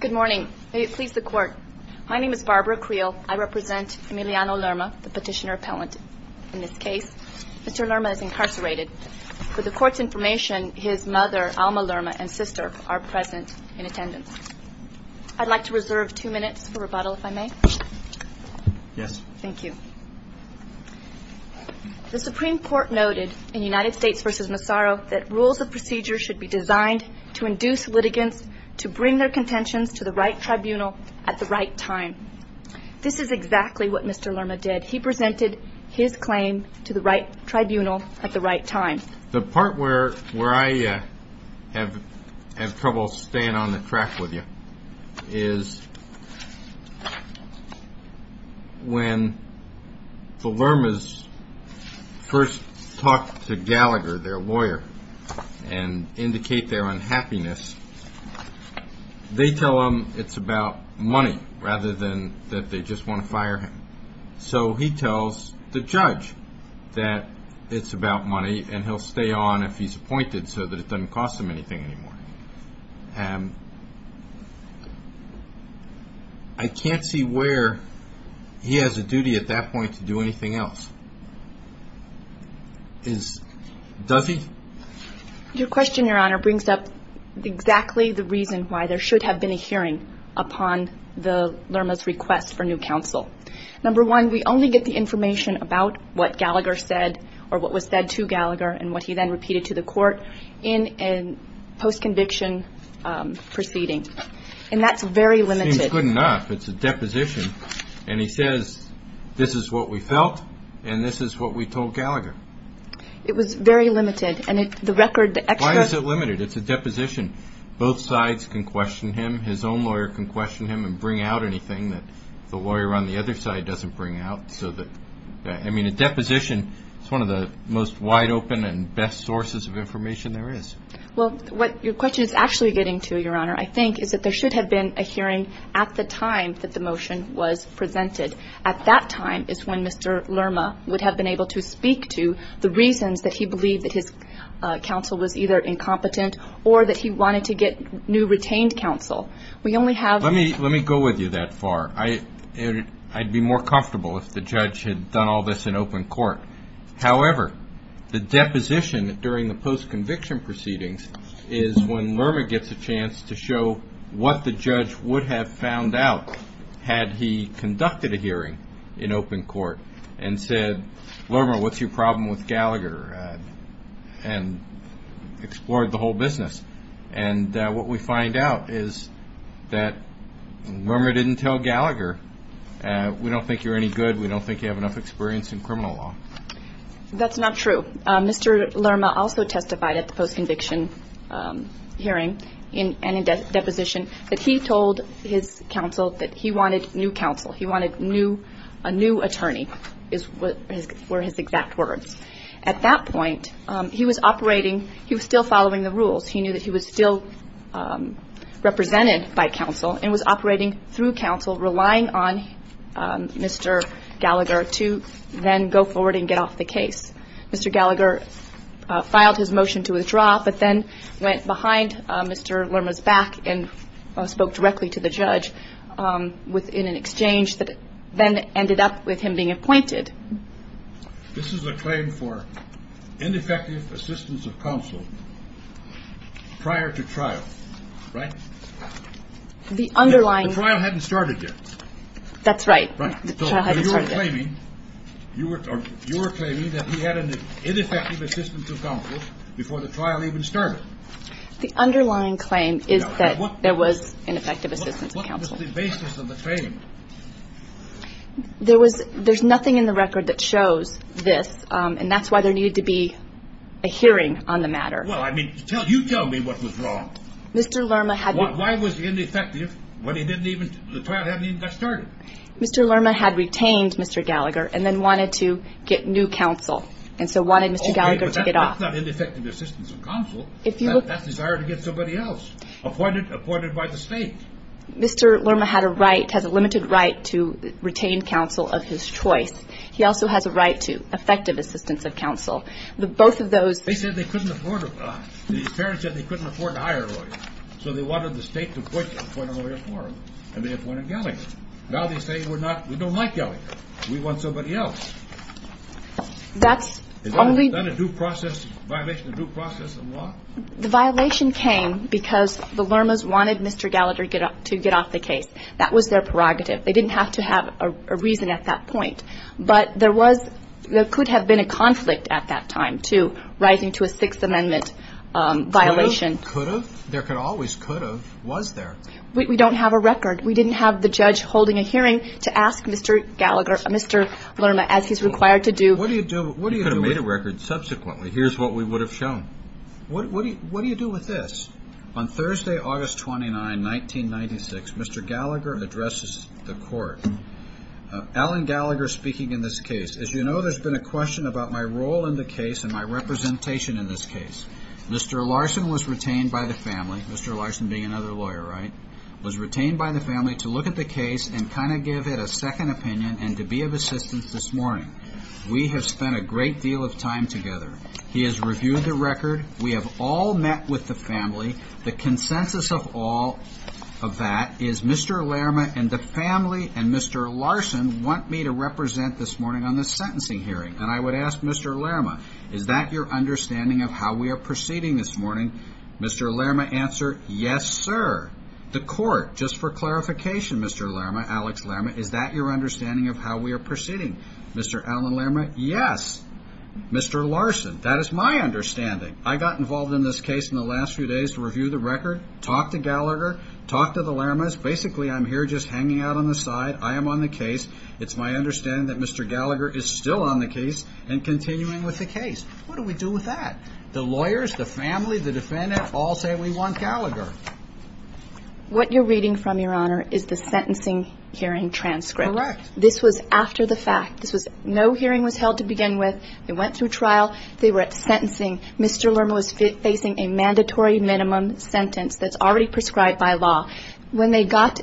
Good morning. May it please the Court. My name is Barbara Creel. I represent Emiliano Lerma, the petitioner-appellant in this case. Mr. Lerma is incarcerated. For the Court's information, his mother, Alma Lerma, and sister are present in attendance. I'd like to reserve two minutes for rebuttal, if I may. Yes. Thank you. The Supreme Court noted in United States v. Massaro that rules of procedure should be designed to induce litigants to bring their contentions to the right tribunal at the right time. This is exactly what Mr. Lerma did. He presented his claim to the right tribunal at the right time. The part where I have trouble staying on the track with you is when the Lermas first talk to Gallagher, their lawyer, and indicate their unhappiness, they tell him it's about money rather than that they just want to fire him. So he tells the judge that it's about money and he'll stay on if he's appointed so that it doesn't cost him anything anymore. I can't see where he has a duty at that point to do anything else. Does he? Your question, Your Honor, brings up exactly the reason why there should have been a hearing upon Lerma's request for new counsel. Number one, we only get the information about what Gallagher said or what was said to Gallagher and what he then repeated to the court in a post-conviction proceeding. And that's very limited. It seems good enough. It's a deposition. And he says, this is what we felt and this is what we told Gallagher. It was very limited. Why is it limited? It's a deposition. Both sides can question him. His own lawyer can question him and bring out anything that the lawyer on the other side doesn't bring out. I mean, a deposition is one of the most wide-open and best sources of information there is. Well, what your question is actually getting to, Your Honor, I think, is that there should have been a hearing at the time that the motion was presented. At that time is when Mr. Lerma would have been able to speak to the reasons that he believed that his counsel was either incompetent or that he wanted to get new retained counsel. We only have ---- Let me go with you that far. I'd be more comfortable if the judge had done all this in open court. However, the deposition during the post-conviction proceedings is when Lerma gets a chance to show what the judge would have found out had he conducted a hearing in open court and said, Lerma, what's your problem with Gallagher? And explored the whole business. And what we find out is that Lerma didn't tell Gallagher, we don't think you're any good, we don't think you have enough experience in criminal law. That's not true. Mr. Lerma also testified at the post-conviction hearing and in deposition that he told his counsel that he wanted new counsel. He wanted a new attorney were his exact words. At that point, he was operating, he was still following the rules. He knew that he was still represented by counsel and was operating through counsel, relying on Mr. Gallagher to then go forward and get off the case. Mr. Gallagher filed his motion to withdraw but then went behind Mr. Lerma's back and spoke directly to the judge in an exchange that then ended up with him being appointed. This is a claim for ineffective assistance of counsel prior to trial, right? The underlying. The trial hadn't started yet. That's right. The trial hadn't started yet. You were claiming that he had an ineffective assistance of counsel before the trial even started. The underlying claim is that there was ineffective assistance of counsel. What was the basis of the claim? There's nothing in the record that shows this, and that's why there needed to be a hearing on the matter. Well, I mean, you tell me what was wrong. Mr. Lerma had. Why was he ineffective when the trial hadn't even got started? Mr. Lerma had retained Mr. Gallagher and then wanted to get new counsel and so wanted Mr. Gallagher to get off. That's not ineffective assistance of counsel. That's desire to get somebody else appointed by the state. Mr. Lerma had a right, has a limited right to retain counsel of his choice. He also has a right to effective assistance of counsel. Both of those. They said they couldn't afford it. These parents said they couldn't afford to hire lawyers. So they wanted the state to appoint a lawyer for them and they appointed Gallagher. Now they say we're not, we don't like Gallagher. We want somebody else. That's only. Is that a due process, violation of due process of law? The violation came because the Lermas wanted Mr. Gallagher to get off the case. That was their prerogative. They didn't have to have a reason at that point. But there was, there could have been a conflict at that time, too, rising to a Sixth Amendment violation. Could have? There could always could have. Was there? We don't have a record. We didn't have the judge holding a hearing to ask Mr. Gallagher, Mr. Lerma, as he's required to do. What do you do? You could have made a record subsequently. Here's what we would have shown. What do you do with this? On Thursday, August 29, 1996, Mr. Gallagher addresses the court. Alan Gallagher speaking in this case. As you know, there's been a question about my role in the case and my representation in this case. Mr. Larson was retained by the family. Mr. Larson being another lawyer, right? Was retained by the family to look at the case and kind of give it a second opinion and to be of assistance this morning. We have spent a great deal of time together. He has reviewed the record. We have all met with the family. The consensus of all of that is Mr. Lerma and the family and Mr. Larson want me to represent this morning on the sentencing hearing, and I would ask Mr. Lerma, is that your understanding of how we are proceeding this morning? Mr. Lerma answered, yes, sir. The court, just for clarification, Mr. Lerma, Alex Lerma, is that your understanding of how we are proceeding? Mr. Alan Lerma, yes. Mr. Larson, that is my understanding. I got involved in this case in the last few days to review the record, talk to Gallagher, talk to the Lermas. Basically, I'm here just hanging out on the side. I am on the case. It's my understanding that Mr. Gallagher is still on the case and continuing with the case. What do we do with that? The lawyers, the family, the defendant all say we want Gallagher. What you're reading from, Your Honor, is the sentencing hearing transcript. Correct. This was after the fact. No hearing was held to begin with. They went through trial. They were at sentencing. Mr. Lerma was facing a mandatory minimum sentence that's already prescribed by law. When they got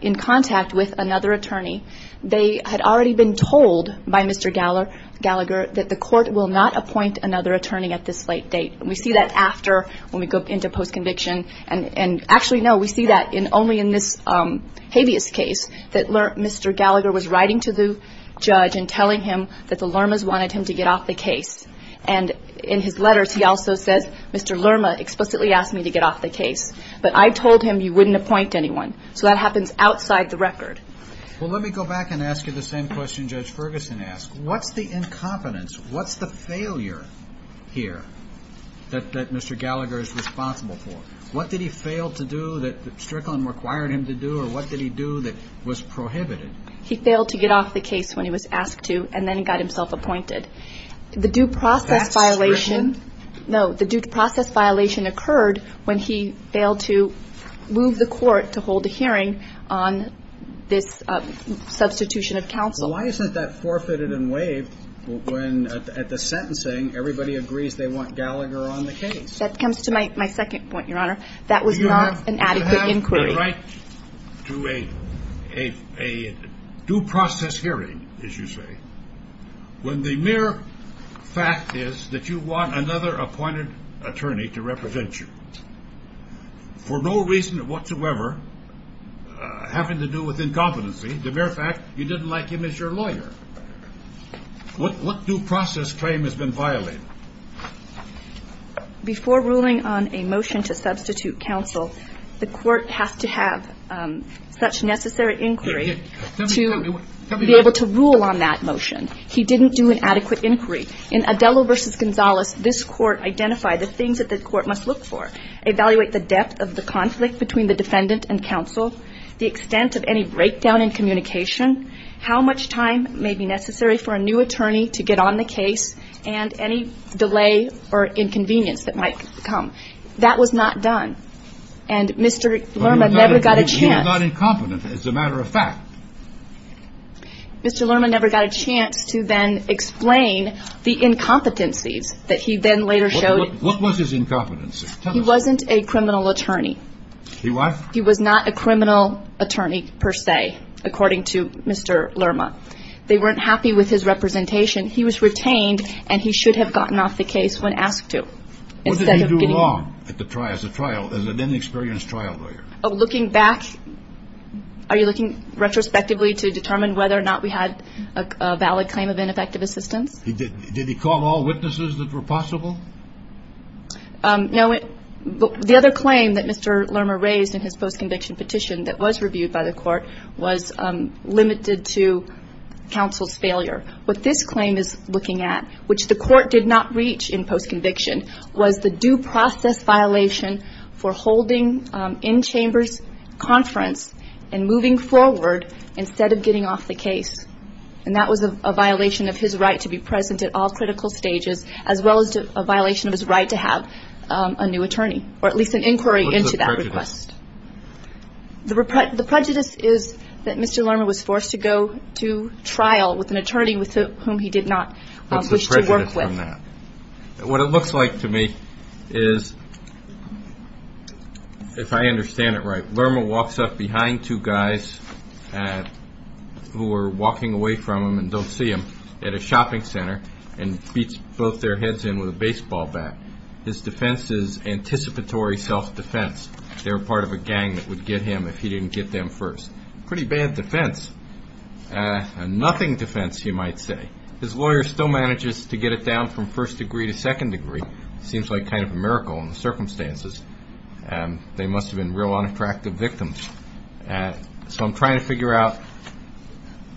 in contact with another attorney, they had already been told by Mr. Gallagher that the court will not appoint another attorney at this late date. And we see that after when we go into post-conviction. And actually, no, we see that only in this habeas case, that Mr. Gallagher was writing to the judge and telling him that the Lermas wanted him to get off the case. And in his letters, he also says, Mr. Lerma explicitly asked me to get off the case, but I told him you wouldn't appoint anyone. So that happens outside the record. Well, let me go back and ask you the same question Judge Ferguson asked. What's the incompetence? What's the failure here that Mr. Gallagher is responsible for? What did he fail to do that Strickland required him to do, or what did he do that was prohibited? He failed to get off the case when he was asked to, and then got himself appointed. The due process violation occurred when he failed to move the court to hold a hearing on this substitution of counsel. Well, why isn't that forfeited and waived when at the sentencing, everybody agrees they want Gallagher on the case? That comes to my second point, Your Honor. That was not an adequate inquiry. You have the right to a due process hearing, as you say, when the mere fact is that you want another appointed attorney to represent you for no reason whatsoever having to do with incompetency. The mere fact you didn't like him as your lawyer. What due process claim has been violated? Before ruling on a motion to substitute counsel, the court has to have such necessary inquiry to be able to rule on that motion. He didn't do an adequate inquiry. In Adello v. Gonzalez, this court identified the things that the court must look for, evaluate the depth of the conflict between the defendant and counsel, the extent of any breakdown in communication, how much time may be necessary for a new attorney to get on the case, and any delay or inconvenience that might come. That was not done. And Mr. Lerman never got a chance. He was not incompetent, as a matter of fact. Mr. Lerman never got a chance to then explain the incompetencies that he then later showed. What was his incompetency? He wasn't a criminal attorney. He was? He was not a criminal attorney per se, according to Mr. Lerman. They weren't happy with his representation. He was retained, and he should have gotten off the case when asked to. What did he do wrong as a trial, as an inexperienced trial lawyer? Looking back, are you looking retrospectively to determine whether or not we had a valid claim of ineffective assistance? Did he call all witnesses that were possible? No. The other claim that Mr. Lerman raised in his post-conviction petition that was reviewed by the court was limited to counsel's failure. What this claim is looking at, which the court did not reach in post-conviction, was the due process violation for holding in-chambers conference and moving forward instead of getting off the case. And that was a violation of his right to be present at all critical stages, as well as a violation of his right to have a new attorney, or at least an inquiry into that request. What's the prejudice? The prejudice is that Mr. Lerman was forced to go to trial with an attorney with whom he did not wish to work with. What's the prejudice from that? The prejudice is, if I understand it right, Lerman walks up behind two guys who are walking away from him and don't see him at a shopping center and beats both their heads in with a baseball bat. His defense is anticipatory self-defense. They were part of a gang that would get him if he didn't get them first. Pretty bad defense. A nothing defense, you might say. His lawyer still manages to get it down from first degree to second degree. It seems like kind of a miracle in the circumstances. They must have been real unattractive victims. So I'm trying to figure out,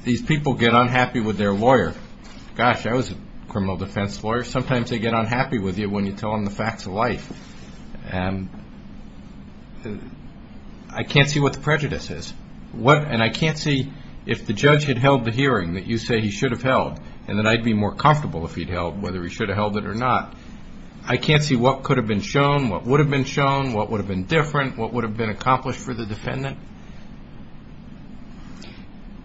these people get unhappy with their lawyer. Gosh, I was a criminal defense lawyer. Sometimes they get unhappy with you when you tell them the facts of life. I can't see what the prejudice is. And I can't see if the judge had held the hearing that you say he should have held and that I'd be more comfortable if he'd held whether he should have held it or not. I can't see what could have been shown, what would have been shown, what would have been different, what would have been accomplished for the defendant.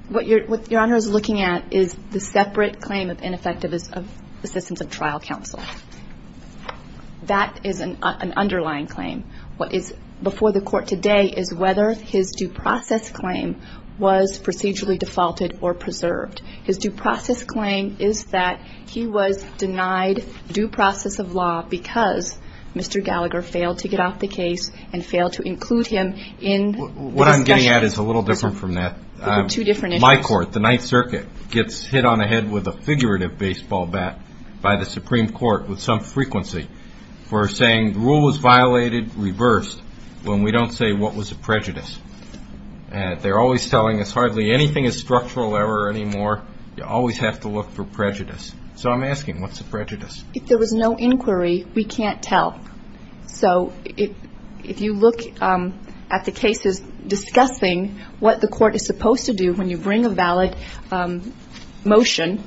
What Your Honor is looking at is the separate claim of ineffective assistance of trial counsel. That is an underlying claim. What is before the court today is whether his due process claim was procedurally defaulted or preserved. His due process claim is that he was denied due process of law because Mr. Gallagher failed to get off the case and failed to include him in the discussion. What I'm getting at is a little different from that. There were two different issues. My court, the Ninth Circuit, gets hit on the head with a figurative baseball bat by the Supreme Court with some frequency for saying the rule was violated, reversed, when we don't say what was the prejudice. They're always telling us hardly anything is structural error anymore. You always have to look for prejudice. So I'm asking, what's the prejudice? If there was no inquiry, we can't tell. So if you look at the cases discussing what the court is supposed to do when you bring a valid motion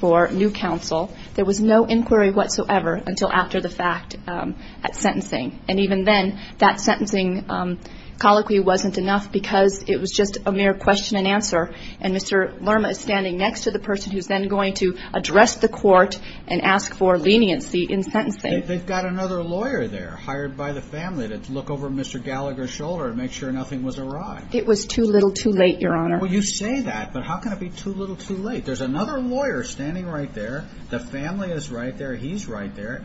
for new counsel, there was no inquiry whatsoever until after the fact at sentencing. And even then, that sentencing colloquy wasn't enough because it was just a mere question and answer, and Mr. Lerma is standing next to the person who's then going to address the court and ask for leniency in sentencing. They've got another lawyer there hired by the family to look over Mr. Gallagher's shoulder and make sure nothing was awry. It was too little too late, Your Honor. Well, you say that, but how can it be too little too late? There's another lawyer standing right there. The family is right there. He's right there.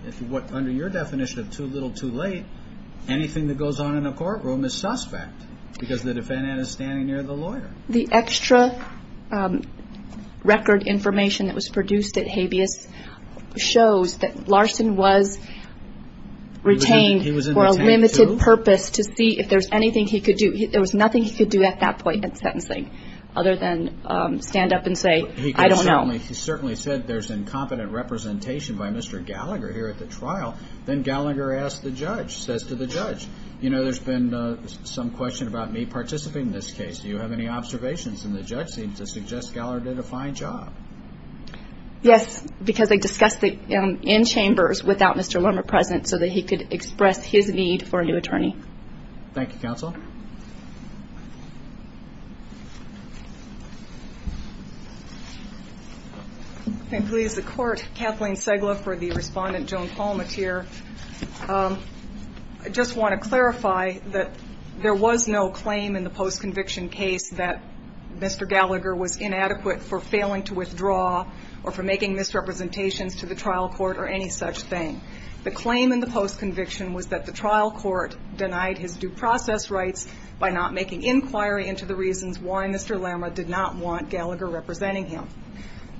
Under your definition of too little too late, anything that goes on in a courtroom is suspect because the defendant is standing near the lawyer. The extra record information that was produced at habeas shows that Larson was retained for a limited purpose to see if there's anything he could do. There was nothing he could do at that point in sentencing other than stand up and say, I don't know. He certainly said there's incompetent representation by Mr. Gallagher here at the trial. Then Gallagher asked the judge, says to the judge, you know, there's been some question about me participating in this case. Do you have any observations? And the judge seemed to suggest Gallagher did a fine job. Yes, because they discussed it in chambers without Mr. Lerma present so that he could express his need for a new attorney. Thank you, counsel. And please, the court, Kathleen Segla for the respondent, Joan Palmettier. I just want to clarify that there was no claim in the post-conviction case that Mr. Gallagher was inadequate for failing to withdraw or for making misrepresentations to the trial court or any such thing. The claim in the post-conviction was that the trial court denied his due process rights by not making inquiry into the reasons why Mr. Lerma did not want Gallagher representing him.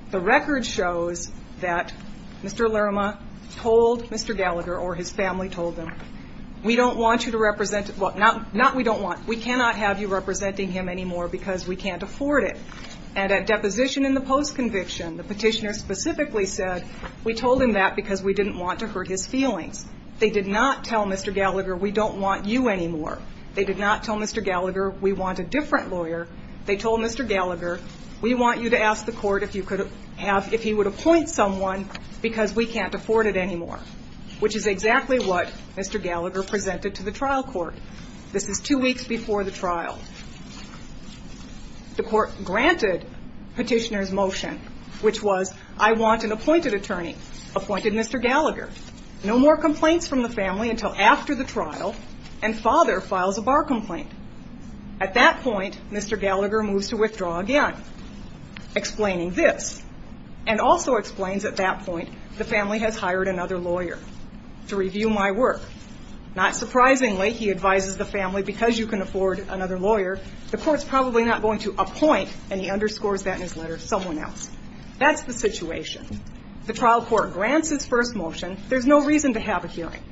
The record shows that Mr. Lerma told Mr. Gallagher or his family told him, we don't want you to represent him. Well, not we don't want. We cannot have you representing him anymore because we can't afford it. And at deposition in the post-conviction, the petitioner specifically said, we told him that because we didn't want to hurt his feelings. They did not tell Mr. Gallagher, we don't want you anymore. They did not tell Mr. Gallagher, we want a different lawyer. They told Mr. Gallagher, we want you to ask the court if you could have if he would appoint someone because we can't afford it anymore, which is exactly what Mr. Gallagher presented to the trial court. This is two weeks before the trial. The court granted petitioner's motion, which was, I want an appointed attorney, appointed Mr. Gallagher. No more complaints from the family until after the trial and father files a bar complaint. At that point, Mr. Gallagher moves to withdraw again, explaining this, and also explains at that point the family has hired another lawyer to review my work. Not surprisingly, he advises the family, because you can afford another lawyer, the court's probably not going to appoint, and he underscores that in his letter, someone else. That's the situation. The trial court grants its first motion. There's no reason to have a hearing.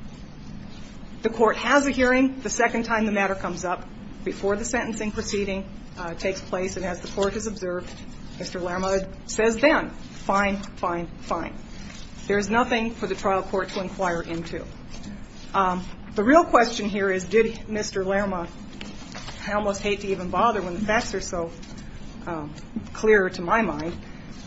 The court has a hearing. The second time the matter comes up, before the sentencing proceeding takes place, and as the court has observed, Mr. Larmode says then, fine, fine, fine. There's nothing for the trial court to inquire into. The real question here is, did Mr. Larmode, I almost hate to even bother when the facts are so clear to my mind,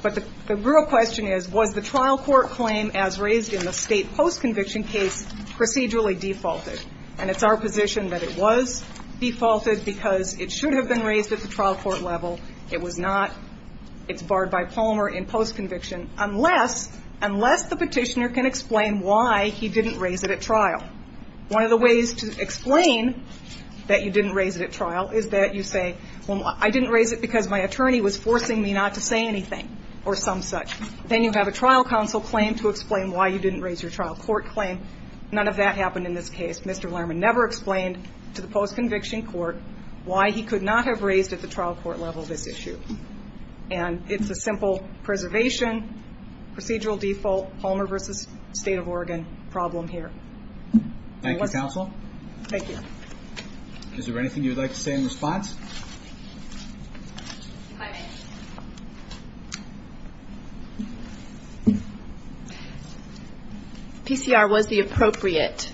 but the real question is, was the trial court claim as raised in the state post-conviction case procedurally defaulted? And it's our position that it was defaulted because it should have been raised at the trial court level. It was not. It's barred by Palmer in post-conviction, unless the petitioner can explain why he didn't raise it at trial. One of the ways to explain that you didn't raise it at trial is that you say, well, I didn't raise it because my attorney was forcing me not to say anything or some such. Then you have a trial counsel claim to explain why you didn't raise your trial court claim. None of that happened in this case. Mr. Larmode never explained to the post-conviction court why he could not have raised at the trial court level this issue. And it's a simple preservation, procedural default, Palmer versus State of Oregon problem here. Thank you, counsel. Thank you. Is there anything you would like to say in response? PCR was the appropriate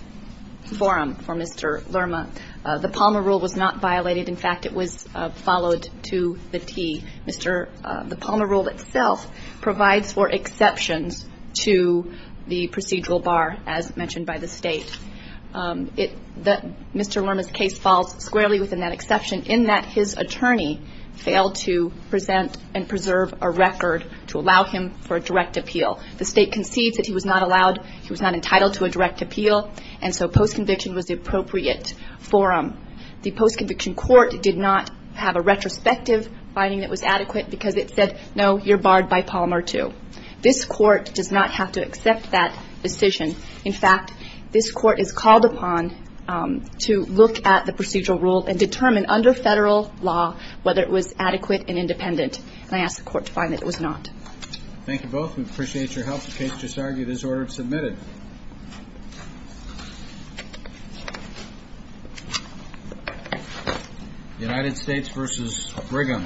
forum for Mr. Lerma. The Palmer rule was not violated. In fact, it was followed to the T. The Palmer rule itself provides for exceptions to the procedural bar, as mentioned by the State. Mr. Lerma's case falls squarely within that exception in that his attorney failed to present and preserve a record to allow him for a direct appeal. The State concedes that he was not allowed, he was not entitled to a direct appeal, and so post-conviction was the appropriate forum. The post-conviction court did not have a retrospective finding that was adequate because it said, no, you're barred by Palmer too. This court does not have to accept that decision. In fact, this court is called upon to look at the procedural rule and determine under Federal law whether it was adequate and independent. And I ask the Court to find that it was not. Thank you both. We appreciate your help. The case just argued is order submitted. United States v. Brigham. Thank you.